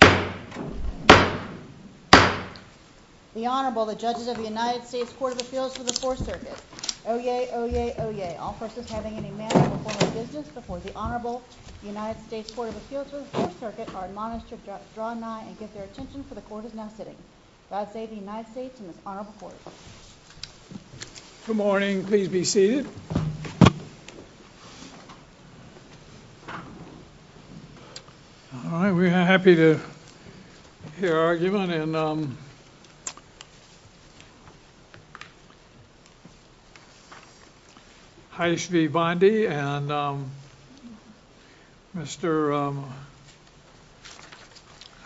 The Honorable, the Judges of the United States Court of Appeals for the Fourth Circuit. Oyez! Oyez! Oyez! All persons having any manner or form of business before the Honorable United States Court of Appeals for the Fourth Circuit are admonished to draw nigh and get their attention for the Court is now sitting. God save the United States and this Honorable Court. Good morning. Please be seated. All right, we're happy to hear argument. And, um, Heidi V. Bondi and, um, Mr.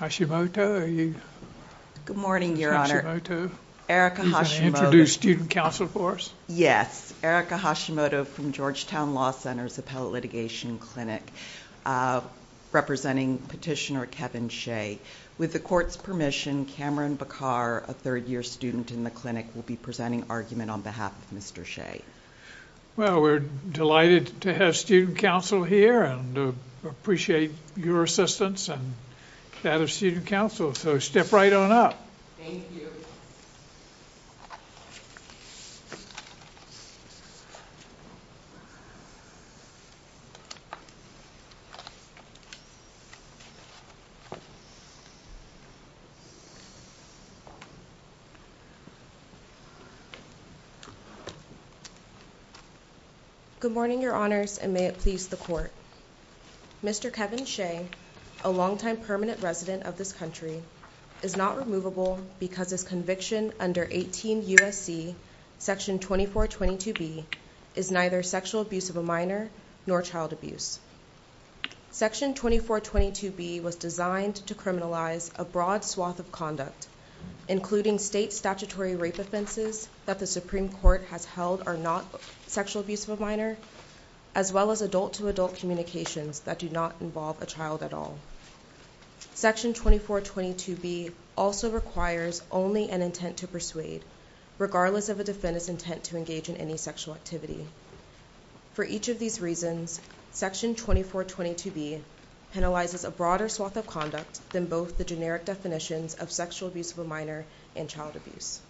Hashimoto. Good morning, Your Honor. Mr. Hashimoto. Erica Hashimoto. Are you going to introduce student counsel for us? Yes. Erica Hashimoto from Georgetown Law Center's Appellate Litigation Clinic, uh, representing Petitioner Kevin Hsieh. With the Court's permission, Cameron Bacar, a third-year student in the clinic, will be presenting argument on behalf of Mr. Hsieh. Well, we're delighted to have student counsel here and appreciate your assistance and that of student counsel. So step right on up. Thank you. Good morning, Your Honors, and may it please the Court. Mr. Kevin Hsieh, a longtime permanent resident of this country, is not removable because his conviction under 18 U.S.C. section 2422B is neither sexual abuse of a minor nor child abuse. Section 2422B was designed to criminalize a broad swath of conduct, including state statutory rape offenses that the Supreme Court has held are not sexual abuse of a minor, as well as adult-to-adult communications that do not involve a child at all. Section 2422B also requires only an intent to persuade, regardless of a defendant's intent to engage in any sexual activity. For each of these reasons, section 2422B penalizes a broader swath of conduct than both the generic definitions of sexual abuse of a minor and child abuse.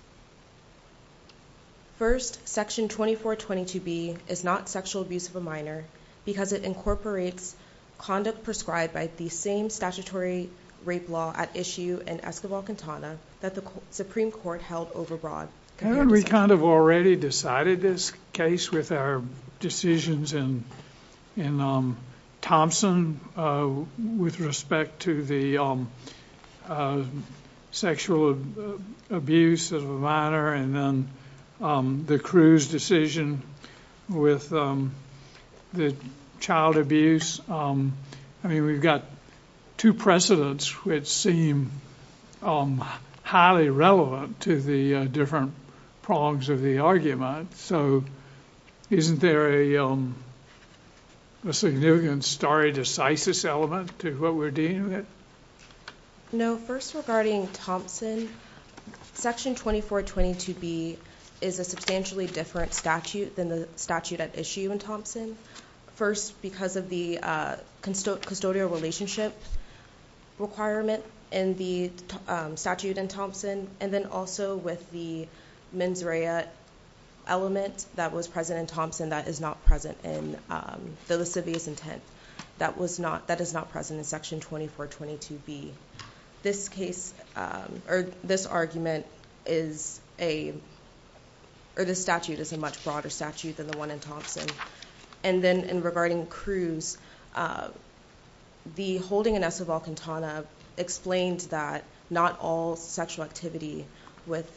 First, section 2422B is not sexual abuse of a minor because it incorporates conduct prescribed by the same statutory rape law at issue in Escobar-Quintana that the Supreme Court held overbroad. Haven't we kind of already decided this case with our decisions in Thompson with respect to the sexual abuse of a minor and then the Cruz decision with the child abuse? I mean, we've got two precedents which seem highly relevant to the different prongs of the argument. So, isn't there a significant stare decisis element to what we're dealing with? No. First, regarding Thompson, section 2422B is a substantially different statute than the statute at issue in Thompson. First, because of the custodial relationship requirement in the statute in Thompson, and then also with the mens rea element that was present in Thompson that is not present in the lascivious intent, that is not present in section 2422B. This case, or this argument is a, or this statute is a much broader statute than the one in Thompson. And then in regarding Cruz, the holding in Escobar-Quintana explained that not all sexual activity with,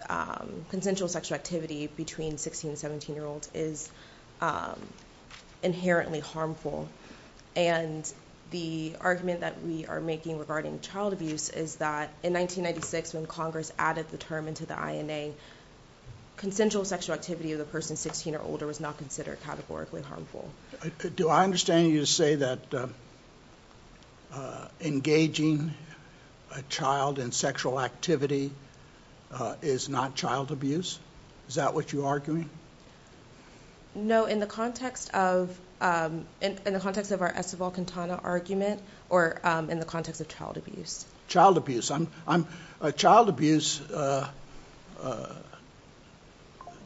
consensual sexual activity between 16 and 17 year olds is inherently harmful. And the argument that we are making regarding child abuse is that in 1996 when Congress added the term into the INA, consensual sexual activity with a person 16 or older was not considered categorically harmful. Do I understand you to say that engaging a child in sexual activity is not child abuse? Is that what you're arguing? No, in the context of our Escobar-Quintana argument, or in the context of child abuse. Child abuse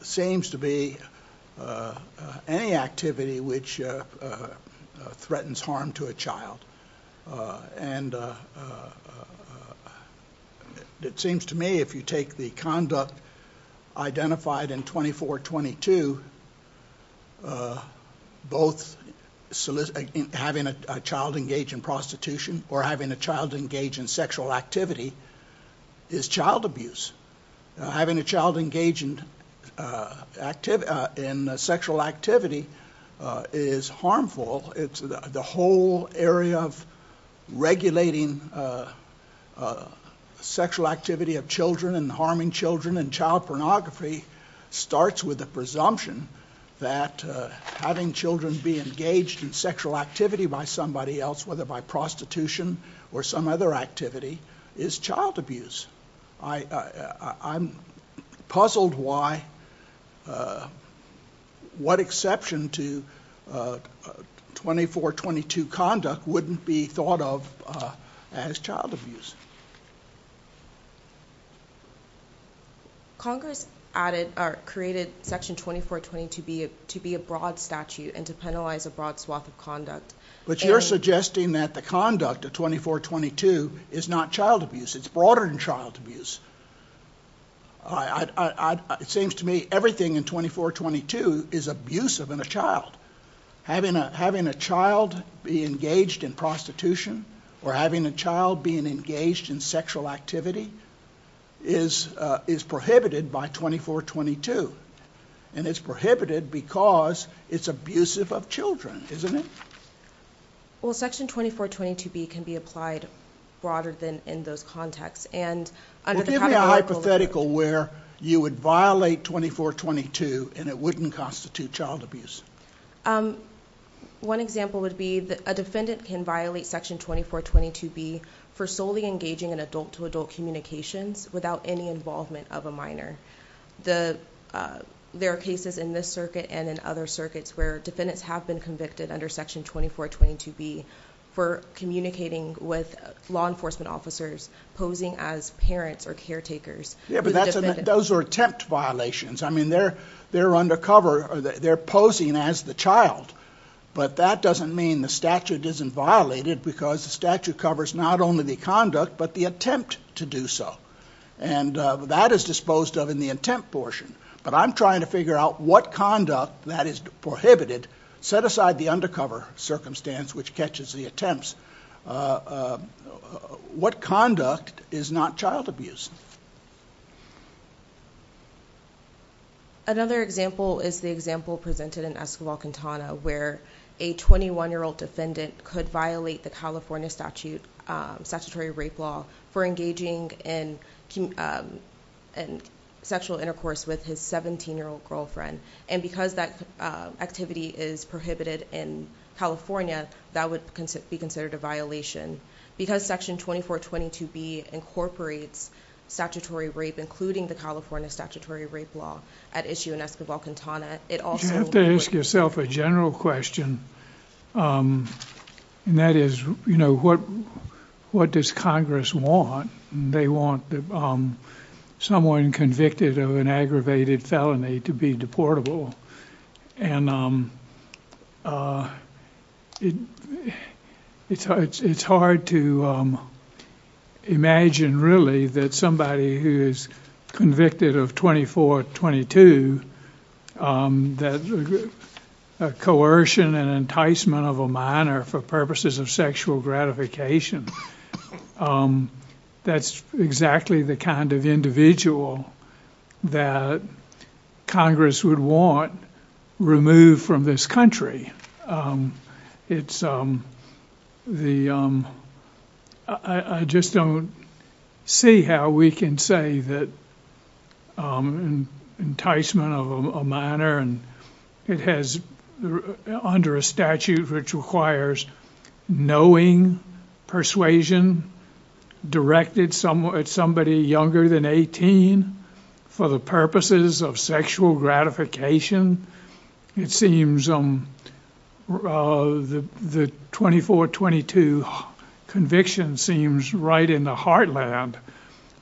seems to be any activity which threatens harm to a child. And it seems to me if you take the conduct identified in 2422, both having a child engage in prostitution or having a child engage in sexual activity is child abuse. Having a child engage in sexual activity is harmful. The whole area of regulating sexual activity of children and harming children and child pornography starts with the presumption that having children be engaged in sexual activity by somebody else, whether by prostitution or some other activity, is child abuse. I'm puzzled why what exception to 2422 conduct wouldn't be thought of as child abuse. Congress added or created section 2420 to be a broad statute and to penalize a broad swath of conduct. But you're suggesting that the conduct of 2422 is not child abuse. It's broader than child abuse. It seems to me everything in 2422 is abusive in a child. Having a child be engaged in prostitution or having a child be engaged in sexual activity is prohibited by 2422. And it's prohibited because it's abusive of children, isn't it? Well, section 2420 to be can be applied broader than in those contexts. Well, give me a hypothetical where you would violate 2422 and it wouldn't constitute child abuse. One example would be that a defendant can violate section 2420 to be for solely engaging in adult to adult communications without any involvement of a minor. There are cases in this circuit and in other circuits where defendants have been convicted under section 2420 to be for communicating with law enforcement officers posing as parents or caretakers. Yeah, but those are attempt violations. I mean, they're undercover. They're posing as the child. But that doesn't mean the statute isn't violated because the statute covers not only the conduct but the attempt to do so. And that is disposed of in the attempt portion. But I'm trying to figure out what conduct that is prohibited. Set aside the undercover circumstance which catches the attempts. What conduct is not child abuse? Another example is the example presented in Escobar Cantana, where a 21 year old defendant could violate the California statute, statutory rape law for engaging in sexual intercourse with his 17 year old girlfriend. And because that activity is prohibited in California, that would be considered a violation because section 2420 to be incorporates. Statutory rape, including the California statutory rape law at issue in Escobar Cantana. It also has to ask yourself a general question. And that is, you know, what what does Congress want? They want someone convicted of an aggravated felony to be deportable. And it's hard to imagine, really, that somebody who is convicted of 2422, that coercion and enticement of a minor for purposes of sexual gratification. That's exactly the kind of individual that Congress would want removed from this country. I just don't see how we can say that enticement of a minor under a statute which requires knowing, persuasion, directed at somebody younger than 18 for the purposes of sexual gratification. It seems the 2422 conviction seems right in the heartland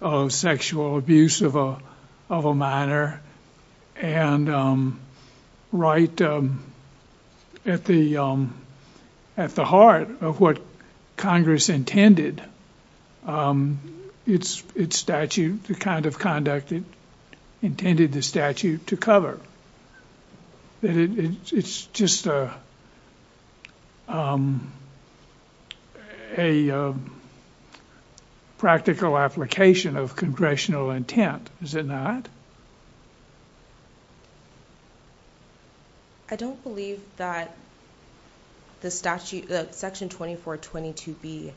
of sexual abuse of a minor and right at the heart of what Congress intended its statute, the kind of conduct it intended the statute to cover. It's just a practical application of congressional intent, is it not? I don't believe that the statute, Section 2422B,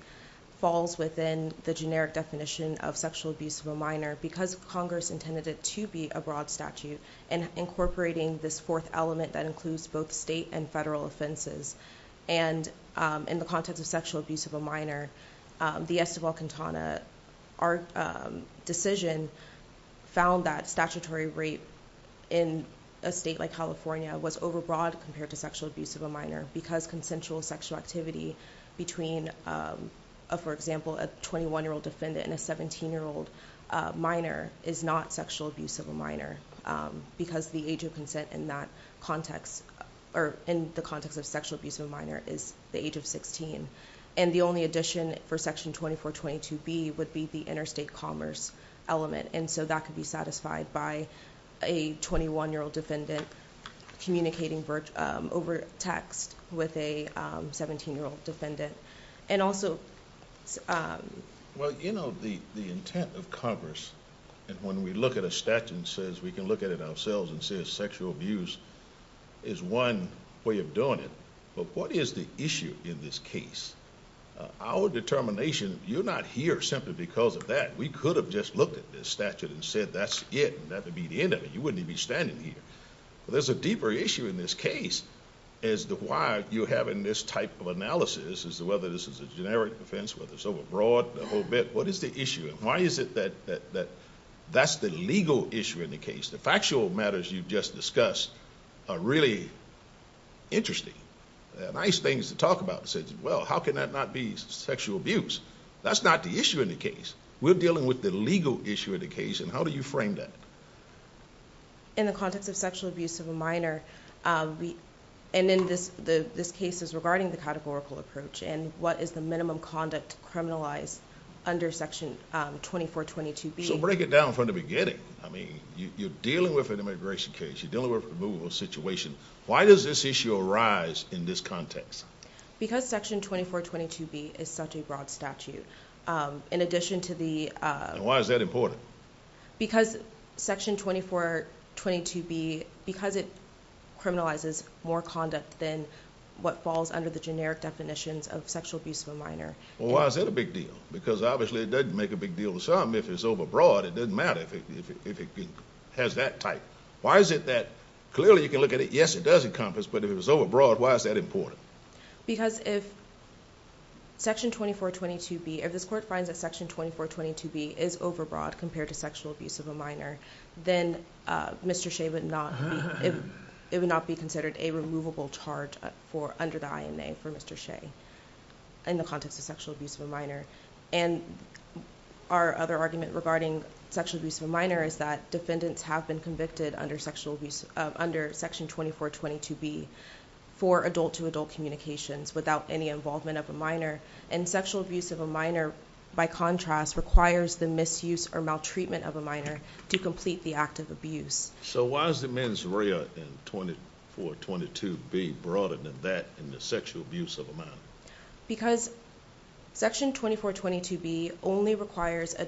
falls within the generic definition of sexual abuse of a minor because Congress intended it to be a broad statute and incorporating this fourth element that includes both state and federal offenses. And in the context of sexual abuse of a minor, the Estival-Quintana decision found that statutory rape in a state like California was overbroad compared to sexual abuse of a minor because consensual sexual activity between, for example, a 21-year-old defendant and a 17-year-old minor is not sexual abuse of a minor. Because the age of consent in that context, or in the context of sexual abuse of a minor is the age of sixteen. And the only addition for Section 2422B would be the interstate commerce element. And so that could be satisfied by a 21-year-old defendant communicating over text with a 17-year-old defendant. And also... Well, you know, the intent of Congress, when we look at a statute and says we can look at it ourselves and say sexual abuse is one way of doing it. But what is the issue in this case? Our determination, you're not here simply because of that. We could have just looked at this statute and said that's it and that would be the end of it. You wouldn't even be standing here. There's a deeper issue in this case as to why you're having this type of analysis as to whether this is a generic offense, whether it's overbroad, the whole bit. What is the issue? Why is it that that's the legal issue in the case? The factual matters you just discussed are really interesting. They're nice things to talk about. Well, how can that not be sexual abuse? That's not the issue in the case. We're dealing with the legal issue in the case. And how do you frame that? In the context of sexual abuse of a minor, and in this case is regarding the categorical approach, and what is the minimum conduct criminalized under Section 2422B? So break it down from the beginning. I mean, you're dealing with an immigration case. You're dealing with a removal situation. Why does this issue arise in this context? Because Section 2422B is such a broad statute. In addition to the... And why is that important? Because Section 2422B... Because it criminalizes more conduct than what falls under the generic definitions of sexual abuse of a minor. Well, why is that a big deal? Because obviously it doesn't make a big deal to some. If it's overbroad, it doesn't matter if it has that type. Why is it that... Clearly, you can look at it. Yes, it does encompass, but if it's overbroad, why is that important? Because if Section 2422B... If this Court finds that Section 2422B is overbroad compared to sexual abuse of a minor, then Mr. Shea would not be... It would not be considered a removable charge under the INA for Mr. Shea in the context of sexual abuse of a minor. Our other argument regarding sexual abuse of a minor is that defendants have been convicted under Section 2422B for adult-to-adult communications without any involvement of a minor. Sexual abuse of a minor, by contrast, requires the misuse or maltreatment of a minor to complete the act of abuse. Why is the mens rea in 2422B broader than that in the sexual abuse of a minor? Because Section 2422B only requires an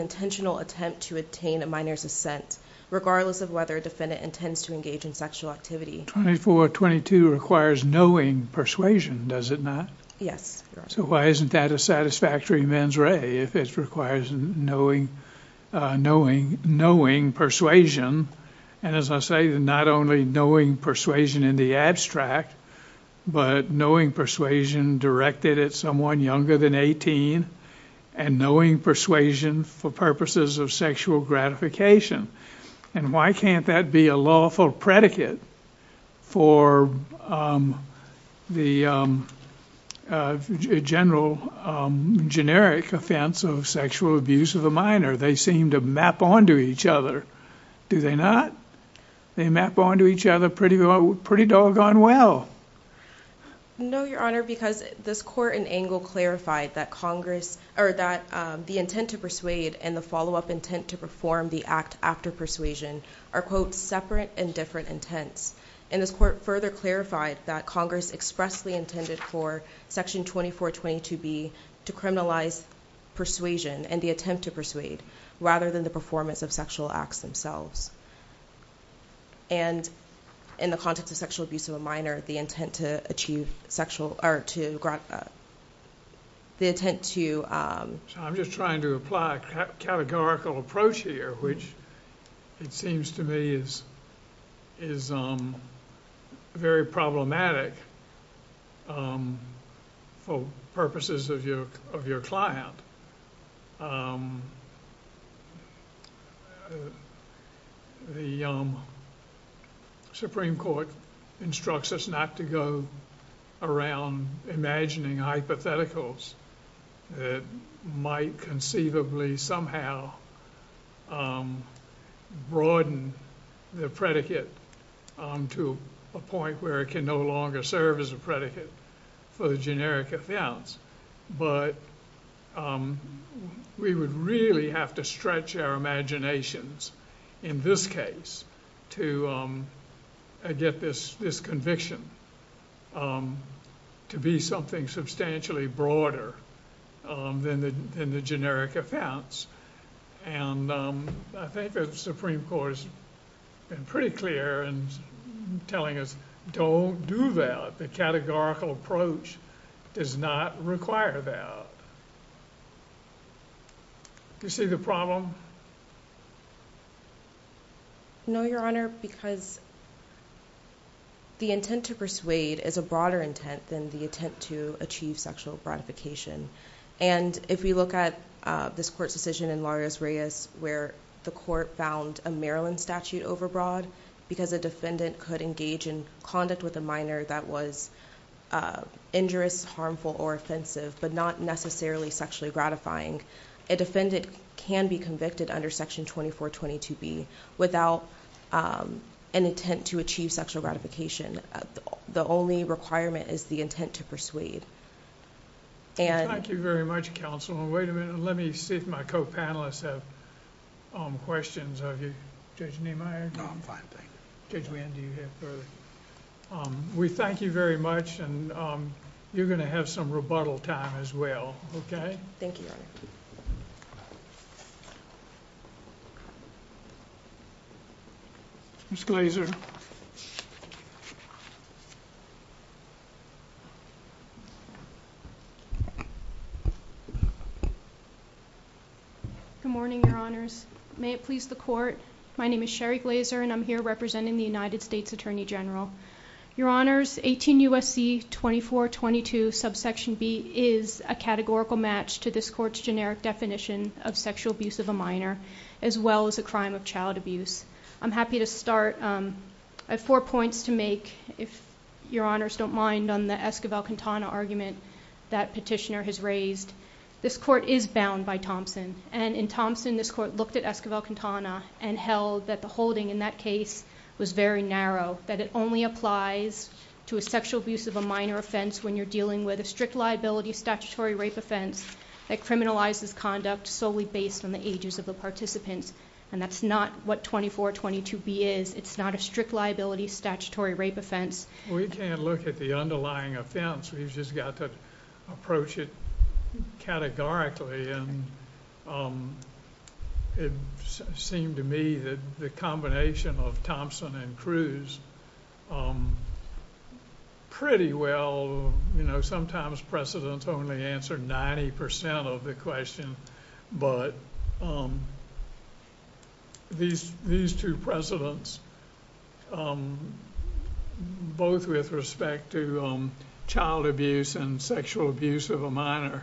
intentional attempt to obtain a minor's assent, regardless of whether a defendant intends to engage in sexual activity. 2422 requires knowing persuasion, does it not? Yes. So why isn't that a satisfactory mens rea if it requires knowing persuasion? And as I say, not only knowing persuasion in the abstract, but knowing persuasion directed at someone younger than 18, and knowing persuasion for purposes of sexual gratification. And why can't that be a lawful predicate for the general, generic offense of sexual abuse of a minor? They seem to map onto each other, do they not? They map onto each other pretty doggone well. No, Your Honor, because this court in Angle clarified that the intent to persuade and the follow-up intent to perform the act after persuasion are, quote, separate and different intents. And this court further clarified that Congress expressly intended for Section 2422B to criminalize persuasion and the attempt to persuade, rather than the performance of sexual acts themselves. And in the context of sexual abuse of a minor, the intent to achieve sexual or to grant the intent to I'm just trying to apply a categorical approach here, which it seems to me is very problematic for purposes of your client. The Supreme Court instructs us not to go around imagining hypotheticals that might conceivably somehow broaden the predicate to a point where it can no longer serve as a predicate for the generic offense. But we would really have to stretch our imaginations in this case to get this conviction to be something substantially broader than the generic offense. And I think the Supreme Court has been pretty clear in telling us, don't do that. The categorical approach does not require that. Do you see the problem? No, Your Honor, because the intent to persuade is a broader intent than the intent to achieve sexual broadification. And if we look at this court's decision in Larios-Reyes, where the court found a Maryland statute overbroad, because a defendant could engage in conduct with a minor that was injurious, harmful, or offensive, but not necessarily sexually gratifying, a defendant can be convicted under Section 2422B without an intent to achieve sexual gratification. The only requirement is the intent to persuade. Thank you very much, Counsel. Wait a minute, let me see if my co-panelists have questions of you. Judge Neimeyer? No, I'm fine, thank you. Judge Winn, do you have further? We thank you very much, and you're going to have some rebuttal time as well, okay? Thank you, Your Honor. Ms. Glazer. Good morning, Your Honors. May it please the Court, my name is Sherry Glazer, and I'm here representing the United States Attorney General. Your Honors, 18 U.S.C. 2422 subsection B is a categorical match to this court's generic definition of sexual abuse of a minor, as well as a crime of child abuse. I'm happy to start. I have four points to make, if Your Honors don't mind, on the Esquivel-Quintana argument that Petitioner has raised. This court is bound by Thompson, and in Thompson, this court looked at Esquivel-Quintana and held that the holding in that case was very narrow, that it only applies to a sexual abuse of a minor offense when you're dealing with a strict liability statutory rape offense that criminalizes conduct solely based on the ages of the participants, and that's not what 2422B is. It's not a strict liability statutory rape offense. We can't look at the underlying offense. We've just got to approach it categorically, and it seemed to me that the combination of Thompson and Cruz pretty well... 90% of the question, but these two precedents, both with respect to child abuse and sexual abuse of a minor,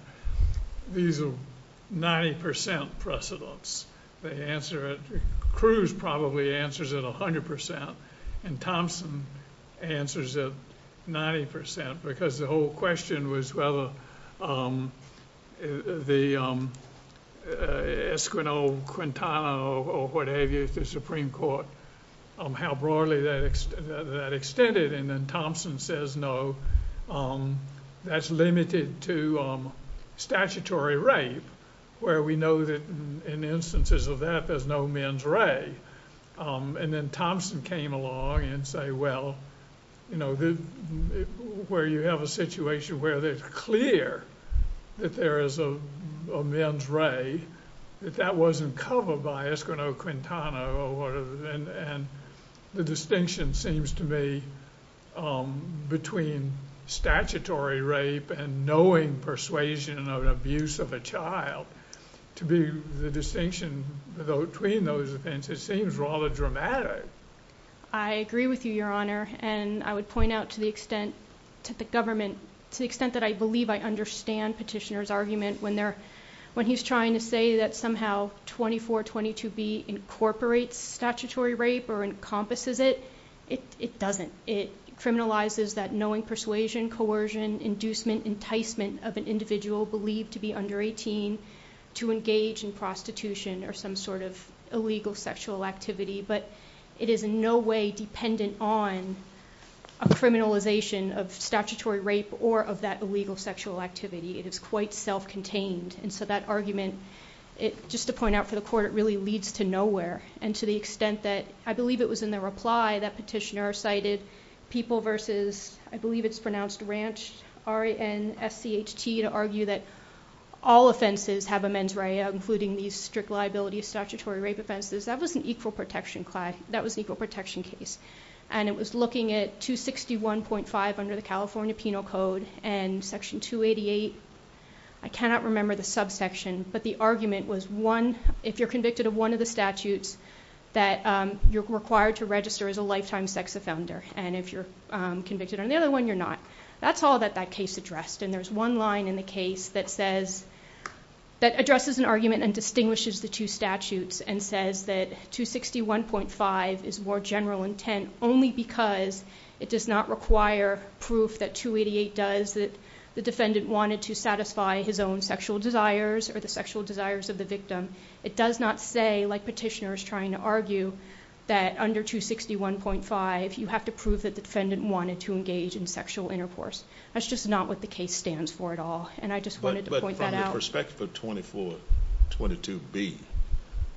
these are 90% precedents. They answer it... Cruz probably answers it 100%, and Thompson answers it 90% because the whole question was whether the Esquivel-Quintana or what have you, how broadly that extended, and then Thompson says, no, that's limited to statutory rape, where we know that in instances of that, there's no men's ray. And then Thompson came along and said, well, you know, where you have a situation where it's clear that there is a men's ray, that that wasn't covered by Esquivel-Quintana or what have you. And the distinction seems to me between statutory rape and knowing persuasion of an abuse of a child, to be the distinction between those things, it seems rather dramatic. I agree with you, Your Honor, and I would point out to the extent that I believe I understand Petitioner's argument when he's trying to say that somehow 2422B incorporates statutory rape or encompasses it. It doesn't. It criminalizes that knowing persuasion, coercion, inducement, enticement of an individual believed to be under 18 to engage in prostitution or some sort of illegal sexual activity. But it is in no way dependent on a criminalization of statutory rape or of that illegal sexual activity. It is quite self-contained. And so that argument, just to point out for the Court, it really leads to nowhere. And to the extent that I believe it was in the reply that Petitioner cited people versus, I believe it's pronounced Ranch, R-A-N-S-C-H-T, to argue that all offenses have a men's ray, including these strict liability of statutory rape offenses. That was an equal protection case. And it was looking at 261.5 under the California Penal Code and Section 288. I cannot remember the subsection, but the argument was one, if you're convicted of one of the statutes, that you're required to register as a lifetime sex offender. And if you're convicted on the other one, you're not. That's all that that case addressed. And there's one line in the case that addresses an argument and distinguishes the two statutes and says that 261.5 is more general intent only because it does not require proof that 288 does that the defendant wanted to satisfy his own sexual desires or the sexual desires of the victim. It does not say, like Petitioner is trying to argue, that under 261.5 you have to prove that the defendant wanted to engage in sexual intercourse. That's just not what the case stands for at all. And I just wanted to point that out. But from the perspective of 2422B,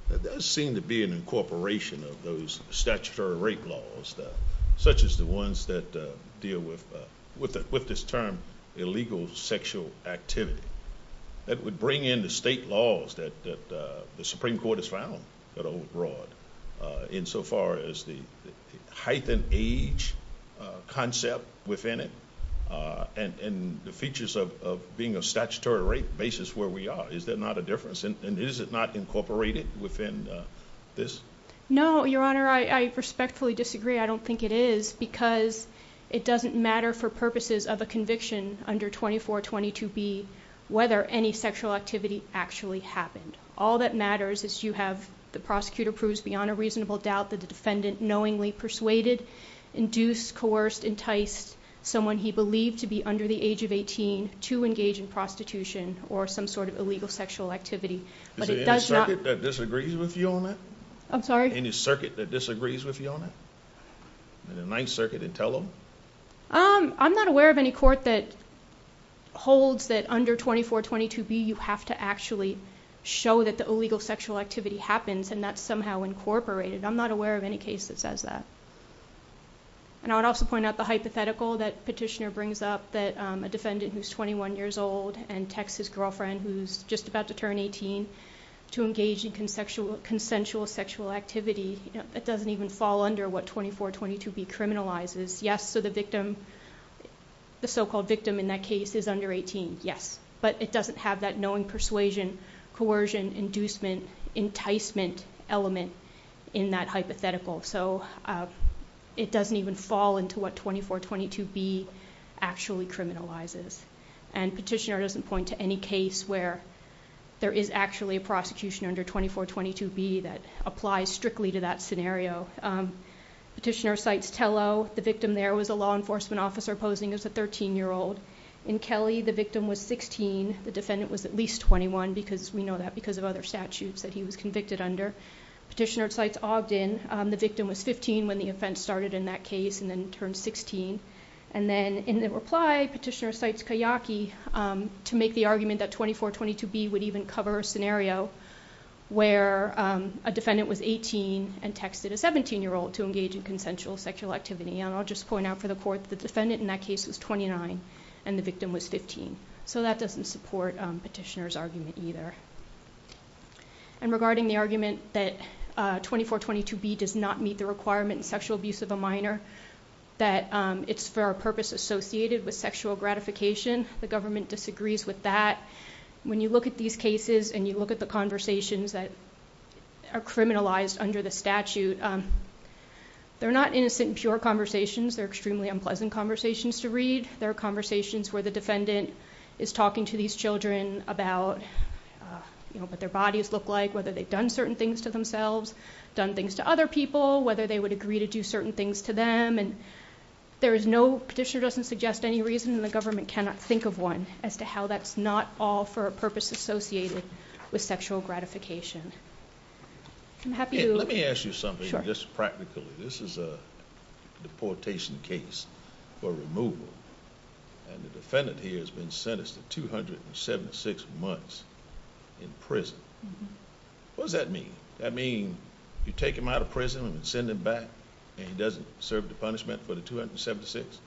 there does seem to be an incorporation of those statutory rape laws, such as the ones that deal with this term illegal sexual activity. That would bring in the state laws that the Supreme Court has found that are abroad insofar as the height and age concept within it and the features of being a statutory rape basis where we are. Is there not a difference? And is it not incorporated within this? No, Your Honor, I respectfully disagree. I don't think it is because it doesn't matter for purposes of a conviction under 2422B whether any sexual activity actually happened. All that matters is you have the prosecutor proves beyond a reasonable doubt that the defendant knowingly persuaded, induced, coerced, enticed someone he believed to be under the age of 18 to engage in prostitution or some sort of illegal sexual activity. Is there any circuit that disagrees with you on that? I'm sorry? Is there any circuit that disagrees with you on that? In the Ninth Circuit in Tello? I'm not aware of any court that holds that under 2422B you have to actually show that the illegal sexual activity happens and that's somehow incorporated. I'm not aware of any case that says that. And I would also point out the hypothetical that Petitioner brings up that a defendant who's 21 years old and texts his girlfriend who's just about to turn 18 to engage in consensual sexual activity. It doesn't even fall under what 2422B criminalizes. Yes, so the victim, the so-called victim in that case is under 18. Yes. But it doesn't have that knowing persuasion, coercion, inducement, enticement element in that hypothetical. So it doesn't even fall into what 2422B actually criminalizes. And Petitioner doesn't point to any case where there is actually a prosecution under 2422B that applies strictly to that scenario. Petitioner cites Tello. The victim there was a law enforcement officer posing as a 13-year-old. In Kelly, the victim was 16. The defendant was at least 21 because we know that because of other statutes that he was convicted under. Petitioner cites Ogden. The victim was 15 when the offense started in that case and then turned 16. And then in the reply, Petitioner cites Kayaki to make the argument that 2422B would even cover a scenario where a defendant was 18 and texted a 17-year-old to engage in consensual sexual activity. And I'll just point out for the court that the defendant in that case was 29 and the victim was 15. So that doesn't support Petitioner's argument either. And regarding the argument that 2422B does not meet the requirement in sexual abuse of a minor, that it's for a purpose associated with sexual gratification, the government disagrees with that. When you look at these cases and you look at the conversations that are criminalized under the statute, they're not innocent and pure conversations. They're extremely unpleasant conversations to read. There are conversations where the defendant is talking to these children about what their bodies look like, whether they've done certain things to themselves, done things to other people, whether they would agree to do certain things to them. And Petitioner doesn't suggest any reason, and the government cannot think of one, as to how that's not all for a purpose associated with sexual gratification. Let me ask you something just practically. This is a deportation case for removal, and the defendant here has been sentenced to 276 months in prison. What does that mean? That means you take him out of prison and send him back, and he doesn't serve the punishment for the 276?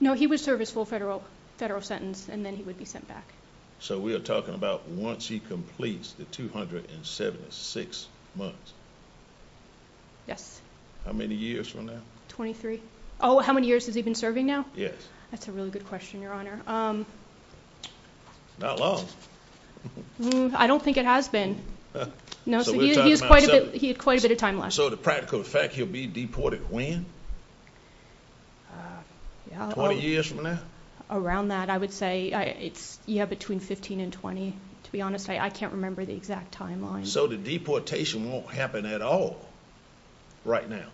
No, he would serve his full federal sentence, and then he would be sent back. So we are talking about once he completes the 276 months? How many years from now? Oh, how many years has he been serving now? Yes. That's a really good question, Your Honor. Not long. I don't think it has been. He had quite a bit of time left. So the practical fact, he'll be deported when? 20 years from now? Around that, I would say, yeah, between 15 and 20, to be honest. I can't remember the exact timeline. So the deportation won't happen at all right now?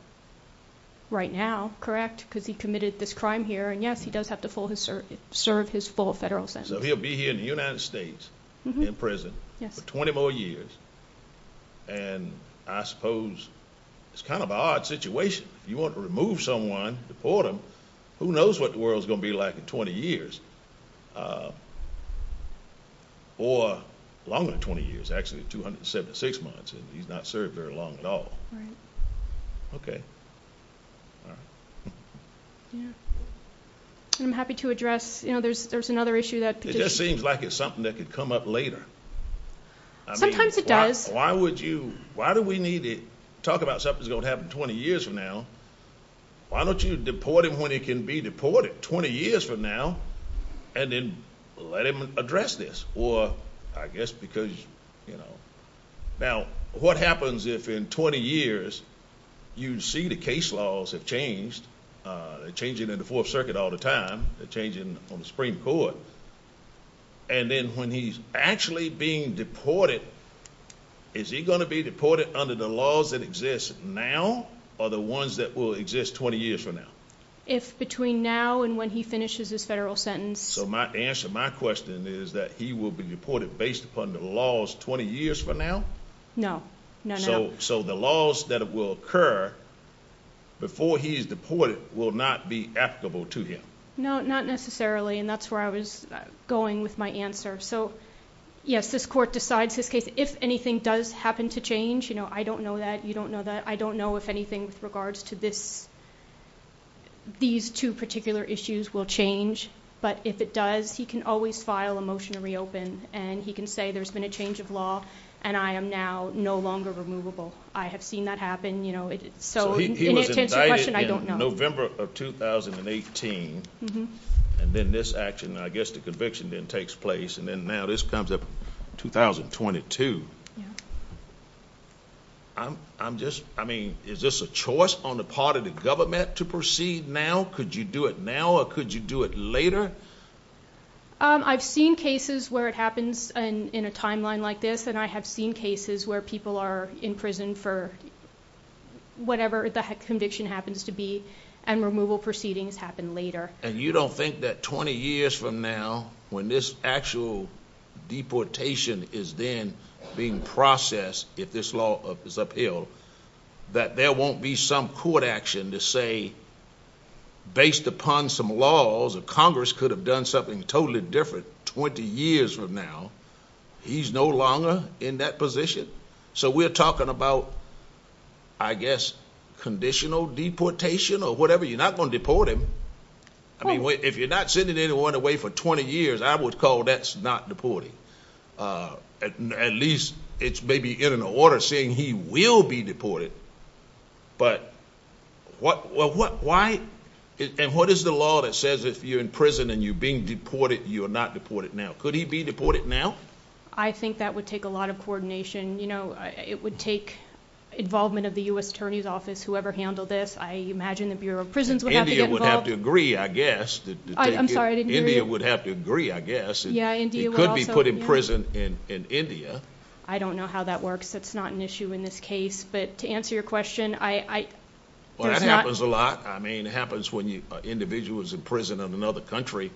Right now, correct, because he committed this crime here, and yes, he does have to serve his full federal sentence. So he'll be here in the United States in prison for 20 more years, and I suppose it's kind of an odd situation. If you want to remove someone, deport them, who knows what the world is going to be like in 20 years, or longer than 20 years, actually 276 months, and he's not served very long at all. Right. Okay. All right. Yeah. I'm happy to address, you know, there's another issue that could just be... It just seems like it's something that could come up later. Sometimes it does. Why do we need to talk about something that's going to happen 20 years from now? Why don't you deport him when he can be deported 20 years from now, and then let him address this? Or I guess because, you know... Now, what happens if in 20 years you see the case laws have changed? They're changing in the Fourth Circuit all the time. They're changing on the Supreme Court. And then when he's actually being deported, is he going to be deported under the laws that exist now or the ones that will exist 20 years from now? If between now and when he finishes his federal sentence... So my answer, my question is that he will be deported based upon the laws 20 years from now? No, not now. So the laws that will occur before he is deported will not be applicable to him? No, not necessarily, and that's where I was going with my answer. So, yes, this court decides this case. If anything does happen to change, you know, I don't know that, you don't know that. I don't know if anything with regards to these two particular issues will change. But if it does, he can always file a motion to reopen, and he can say there's been a change of law, and I am now no longer removable. I have seen that happen. So in answer to your question, I don't know. November of 2018, and then this action, I guess the conviction then takes place, and then now this comes up 2022. I'm just, I mean, is this a choice on the part of the government to proceed now? Could you do it now or could you do it later? I've seen cases where it happens in a timeline like this, and I have seen cases where people are in prison for whatever the conviction happens to be and removal proceedings happen later. And you don't think that 20 years from now, when this actual deportation is then being processed, if this law is upheld, that there won't be some court action to say, based upon some laws that Congress could have done something totally different 20 years from now, he's no longer in that position? So we're talking about, I guess, conditional deportation or whatever? You're not going to deport him. I mean, if you're not sending anyone away for 20 years, I would call that's not deporting. At least it's maybe in an order saying he will be deported. But why? And what is the law that says if you're in prison and you're being deported, you are not deported now? Could he be deported now? I think that would take a lot of coordination. It would take involvement of the U.S. Attorney's Office, whoever handled this. I imagine the Bureau of Prisons would have to get involved. India would have to agree, I guess. I'm sorry, I didn't hear you. India would have to agree, I guess. Yeah, India would also. He could be put in prison in India. I don't know how that works. That's not an issue in this case. But to answer your question, it's not. Well, that happens a lot. I mean, it happens when an individual is in prison in another country,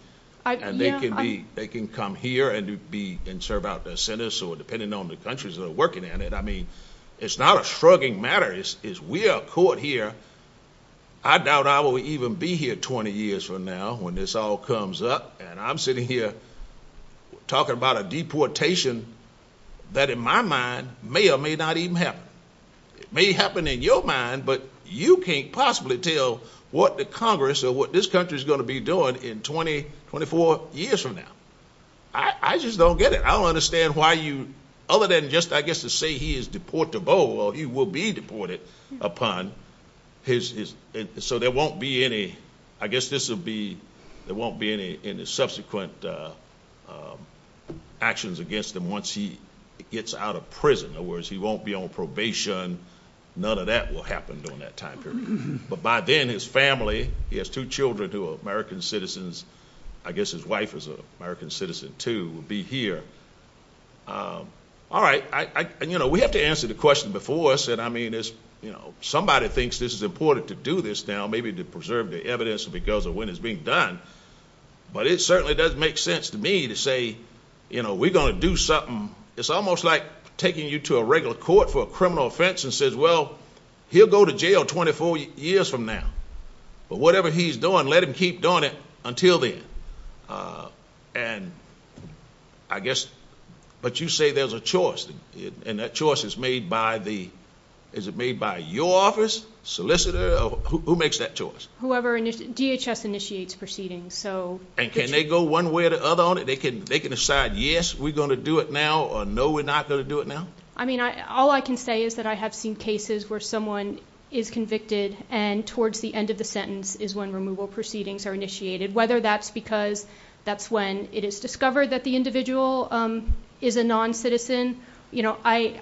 and they can come here and serve out their sentence, or depending on the countries that are working in it. I mean, it's not a shrugging matter. We are a court here. I doubt I will even be here 20 years from now when this all comes up, and I'm sitting here talking about a deportation that, in my mind, may or may not even happen. It may happen in your mind, but you can't possibly tell what the Congress or what this country is going to be doing in 20, 24 years from now. I just don't get it. I don't understand why you, other than just, I guess, to say he is deportable, he will be deported upon. So there won't be any, I guess this will be, there won't be any subsequent actions against him once he gets out of prison. In other words, he won't be on probation. None of that will happen during that time period. But by then, his family, he has two children who are American citizens. I guess his wife is an American citizen too, will be here. All right. And, you know, we have to answer the question before us. I mean, somebody thinks this is important to do this now, maybe to preserve the evidence because of when it's being done, but it certainly doesn't make sense to me to say, you know, we're going to do something. It's almost like taking you to a regular court for a criminal offense and says, well, he'll go to jail 24 years from now. But whatever he's doing, let him keep doing it until then. And I guess, but you say there's a choice, and that choice is made by the, is it made by your office, solicitor, who makes that choice? Whoever, DHS initiates proceedings, so. And can they go one way or the other on it? They can decide, yes, we're going to do it now, or no, we're not going to do it now? I mean, all I can say is that I have seen cases where someone is convicted and towards the end of the sentence is when removal proceedings are initiated, whether that's because that's when it is discovered that the individual is a non-citizen. You know, I,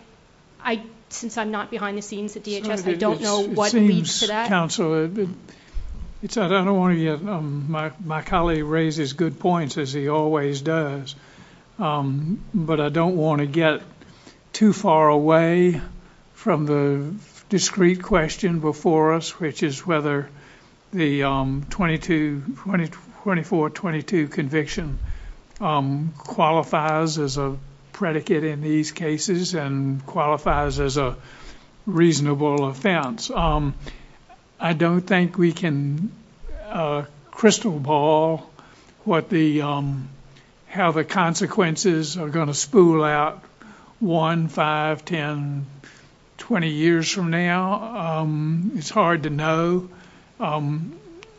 since I'm not behind the scenes at DHS, I don't know what leads to that. It seems, counsel, I don't want to get, my colleague raises good points, as he always does, but I don't want to get too far away from the discreet question before us, which is whether the 24-22 conviction qualifies as a predicate in these cases and qualifies as a reasonable offense. I don't think we can crystal ball what the, how the consequences are going to spool out one, five, 10, 20 years from now. It's hard to know. At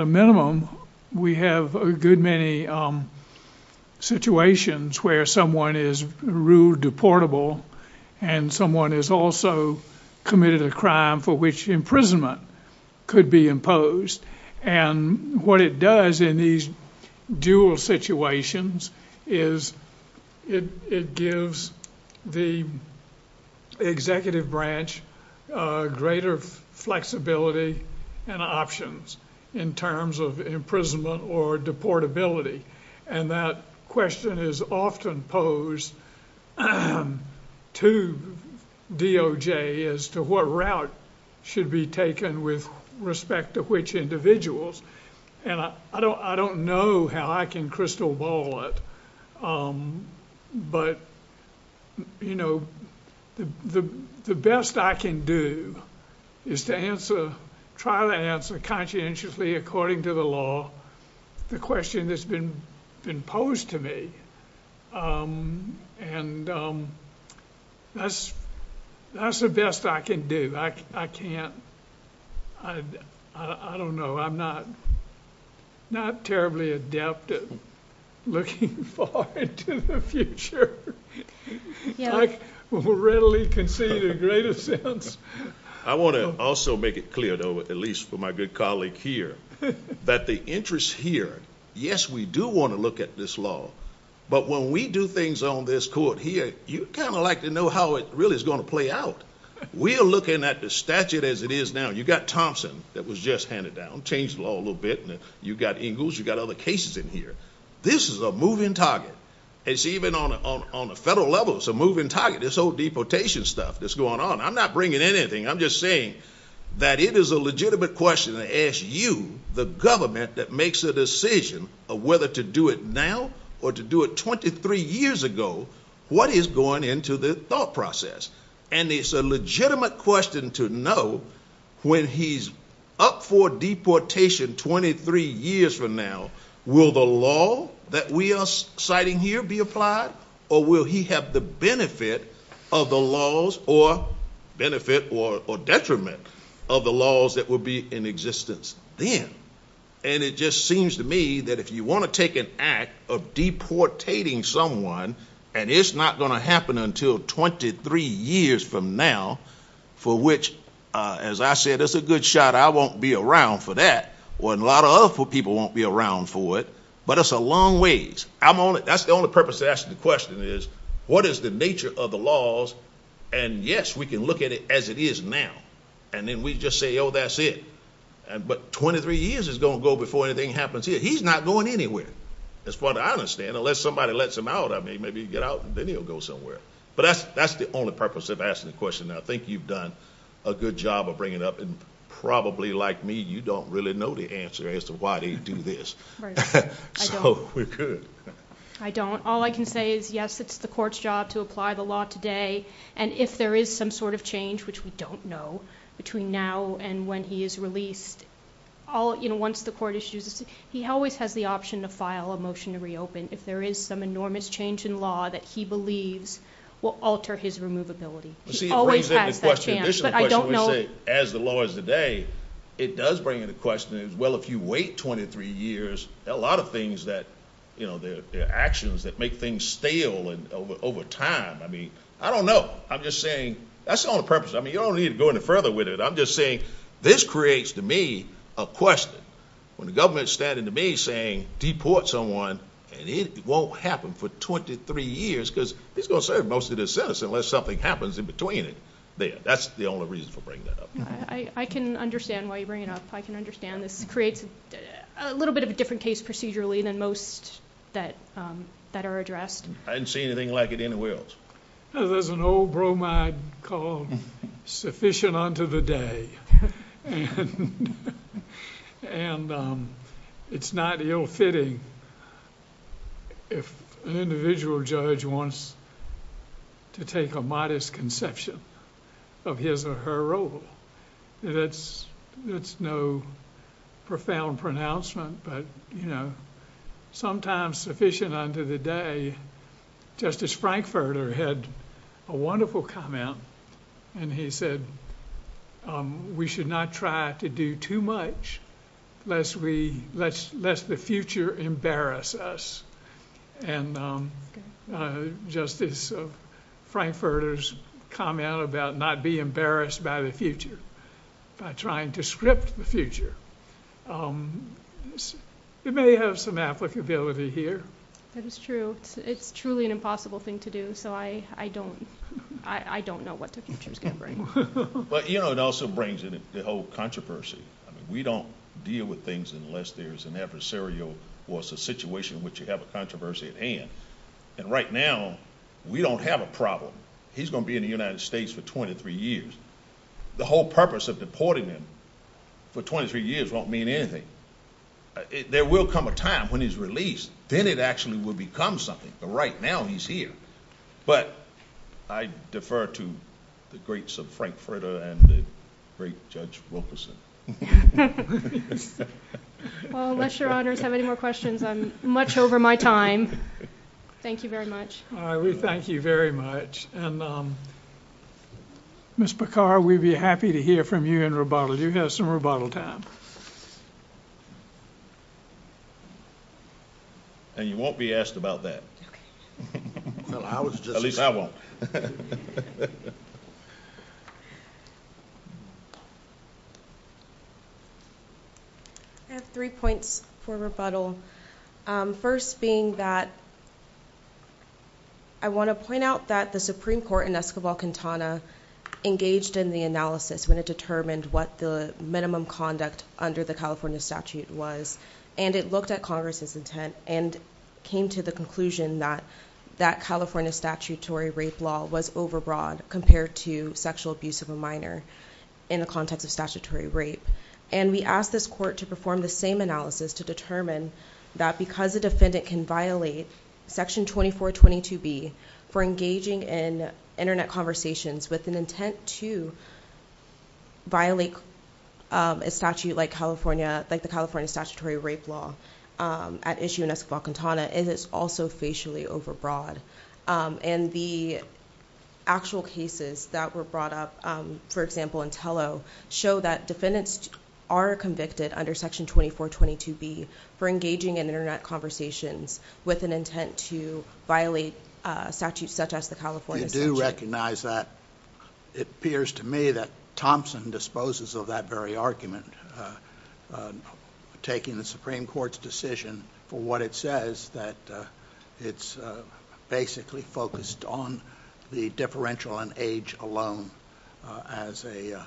a minimum, we have a good many situations where someone is ruled deportable and someone has also committed a crime for which imprisonment could be imposed. And what it does in these dual situations is it gives the executive branch greater flexibility and options in terms of imprisonment or deportability. And that question is often posed to DOJ as to what route should be taken with respect to which individuals. And I don't know how I can crystal ball it, but, you know, the best I can do is to answer, try to answer conscientiously according to the law the question that's been posed to me. And that's the best I can do. I can't, I don't know. I'm not terribly adept at looking far into the future. I readily concede a greater sense. I want to also make it clear, though, at least for my good colleague here, that the interest here, yes, we do want to look at this law, but when we do things on this court here, you kind of like to know how it really is going to play out. We are looking at the statute as it is now. You've got Thompson that was just handed down, changed the law a little bit, and you've got Ingalls, you've got other cases in here. This is a moving target. It's even on a federal level, it's a moving target. This whole deportation stuff that's going on, I'm not bringing in anything. I'm just saying that it is a legitimate question to ask you, the government that makes a decision of whether to do it now or to do it 23 years ago, what is going into the thought process? And it's a legitimate question to know when he's up for deportation 23 years from now, will the law that we are citing here be applied or will he have the benefit or detriment of the laws that will be in existence then? And it just seems to me that if you want to take an act of deportating someone and it's not going to happen until 23 years from now, for which, as I said, it's a good shot, I won't be around for that, or a lot of other people won't be around for it, but it's a long ways. That's the only purpose of asking the question is, what is the nature of the laws? And yes, we can look at it as it is now, and then we just say, oh, that's it. But 23 years is going to go before anything happens here. He's not going anywhere, as far as I understand, unless somebody lets him out. Maybe he'll get out and then he'll go somewhere. But that's the only purpose of asking the question. I think you've done a good job of bringing it up, and probably like me, you don't really know the answer as to why they do this. So we could. I don't. All I can say is, yes, it's the court's job to apply the law today, and if there is some sort of change, which we don't know, between now and when he is released, once the court issues it, he always has the option to file a motion to reopen if there is some enormous change in law that he believes will alter his removability. He always has that chance. But I don't know. As the law is today, it does bring in the question, well, if you wait 23 years, there are a lot of things that, you know, there are actions that make things stale over time. I mean, I don't know. I'm just saying that's the only purpose. I mean, you don't need to go any further with it. I'm just saying this creates, to me, a question. When the government is standing to me saying deport someone, and it won't happen for 23 years because he's going to serve most of his sentence unless something happens in between there. That's the only reason for bringing that up. I can understand why you bring it up. I can understand this creates a little bit of a different case procedurally than most that are addressed. I didn't see anything like it anywhere else. There's an old bromide called sufficient unto the day. It's not ill-fitting if an individual judge wants to take a modest conception of his or her role. That's no profound pronouncement, but, you know, sometimes sufficient unto the day. Justice Frankfurter had a wonderful comment, and he said, we should not try to do too much lest the future embarrass us. Justice Frankfurter's comment about not be embarrassed by the future by trying to script the future, it may have some applicability here. That is true. It's truly an impossible thing to do, so I don't know what the future's going to bring. But, you know, it also brings in the whole controversy. We don't deal with things unless there's an adversarial situation which you have a controversy at hand. Right now, we don't have a problem. He's going to be in the United States for twenty-three years. The whole purpose of deporting him for twenty-three years won't mean anything. There will come a time when he's released. Then it actually will become something, but right now he's here. But I defer to the greats of Frankfurter and the great Judge Wilkerson. Well, unless your honors have any more questions, I'm much over my time. Thank you very much. All right. We thank you very much. And, Ms. Bacar, we'd be happy to hear from you in rebuttal. You have some rebuttal time. And you won't be asked about that. At least I won't. I have three points for rebuttal, first being that I want to point out that the Supreme Court in Escobar-Quintana engaged in the analysis when it determined what the minimum conduct under the California statute was. And it looked at Congress's intent and came to the conclusion that California statutory rape law was overbroad compared to sexual abuse of a minor in the context of statutory rape. And we asked this court to perform the same analysis to determine that because a defendant can violate Section 2422B for engaging in Internet conversations with an intent to violate a statute like the California statutory rape law at issue in Escobar-Quintana, and it's also facially overbroad. And the actual cases that were brought up, for example, in Tello, show that defendants are convicted under Section 2422B for engaging in Internet conversations with an intent to violate a statute such as the California statute. We do recognize that. It appears to me that Thompson disposes of that very argument, taking the Supreme Court's decision for what it says, that it's basically focused on the differential in age alone as the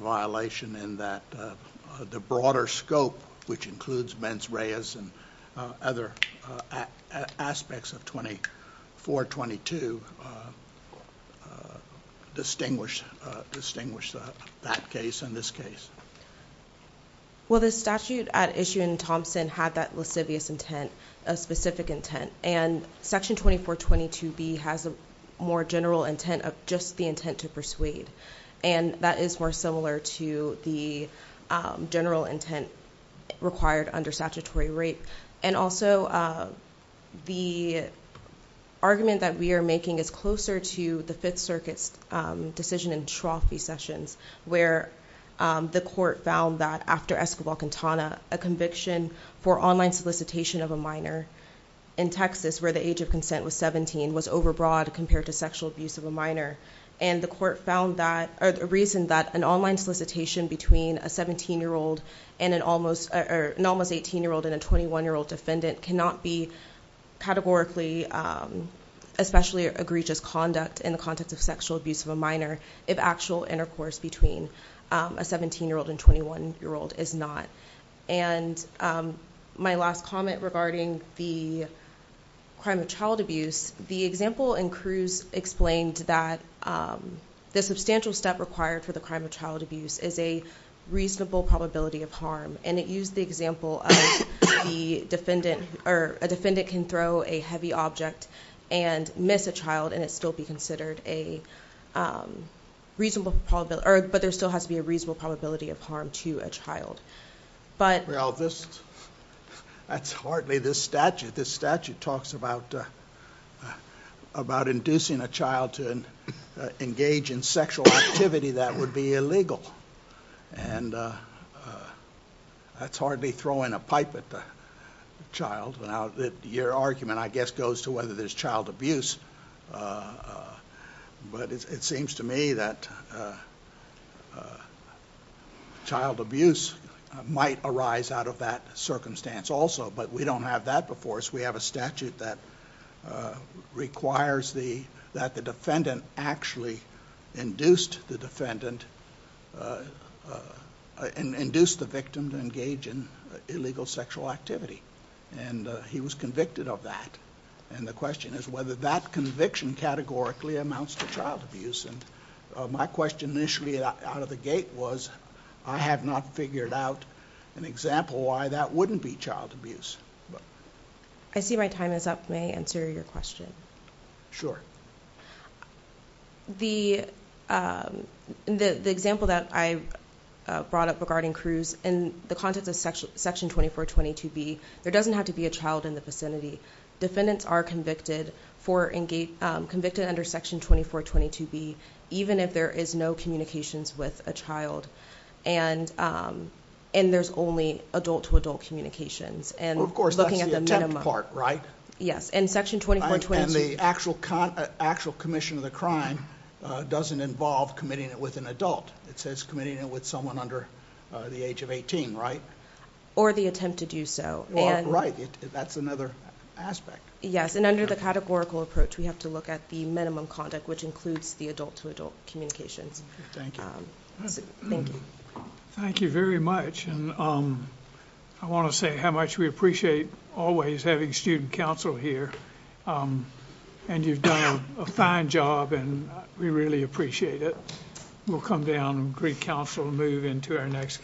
violation in that the broader scope, which includes mens reas and other aspects of 2422, to distinguish that case and this case. Well, the statute at issue in Thompson had that lascivious intent, a specific intent, and Section 2422B has a more general intent of just the intent to persuade, and that is more similar to the general intent required under statutory rape. And also, the argument that we are making is closer to the Fifth Circuit's decision in Trophy Sessions, where the court found that after Escobar-Quintana, a conviction for online solicitation of a minor in Texas where the age of consent was 17 was overbroad compared to sexual abuse of a minor. And the court found that, or the reason that an online solicitation between an almost 18-year-old and a 21-year-old defendant cannot be categorically, especially egregious conduct in the context of sexual abuse of a minor if actual intercourse between a 17-year-old and 21-year-old is not. And my last comment regarding the crime of child abuse, the example in Cruz explained that the substantial step required for the crime of child abuse is a reasonable probability of harm. And it used the example of a defendant can throw a heavy object and miss a child and it still be considered a reasonable probability, but there still has to be a reasonable probability of harm to a child. Well, that's hardly this statute. This statute talks about inducing a child to engage in sexual activity that would be illegal, and that's hardly throwing a pipe at the child. Your argument, I guess, goes to whether there's child abuse, but it seems to me that child abuse might arise out of that circumstance also, but we don't have that before us. We have a statute that requires that the defendant actually induced the victim to engage in illegal sexual activity, and he was convicted of that. And the question is whether that conviction categorically amounts to child abuse. My question initially out of the gate was, I have not figured out an example why that wouldn't be child abuse. I see my time is up. May I answer your question? Sure. The example that I brought up regarding Cruz, in the context of Section 2422B, there doesn't have to be a child in the vicinity. Defendants are convicted under Section 2422B even if there is no communications with a child, and there's only adult-to-adult communications. Of course, that's the attempt part, right? Yes, and Section 2422B... And the actual commission of the crime doesn't involve committing it with an adult. It says committing it with someone under the age of 18, right? Or the attempt to do so. Right. That's another aspect. Yes, and under the categorical approach, we have to look at the minimum conduct, which includes the adult-to-adult communications. Thank you. Thank you. Thank you very much. I want to say how much we appreciate always having student counsel here, and you've done a fine job, and we really appreciate it. We'll come down and greet counsel and move into our next case.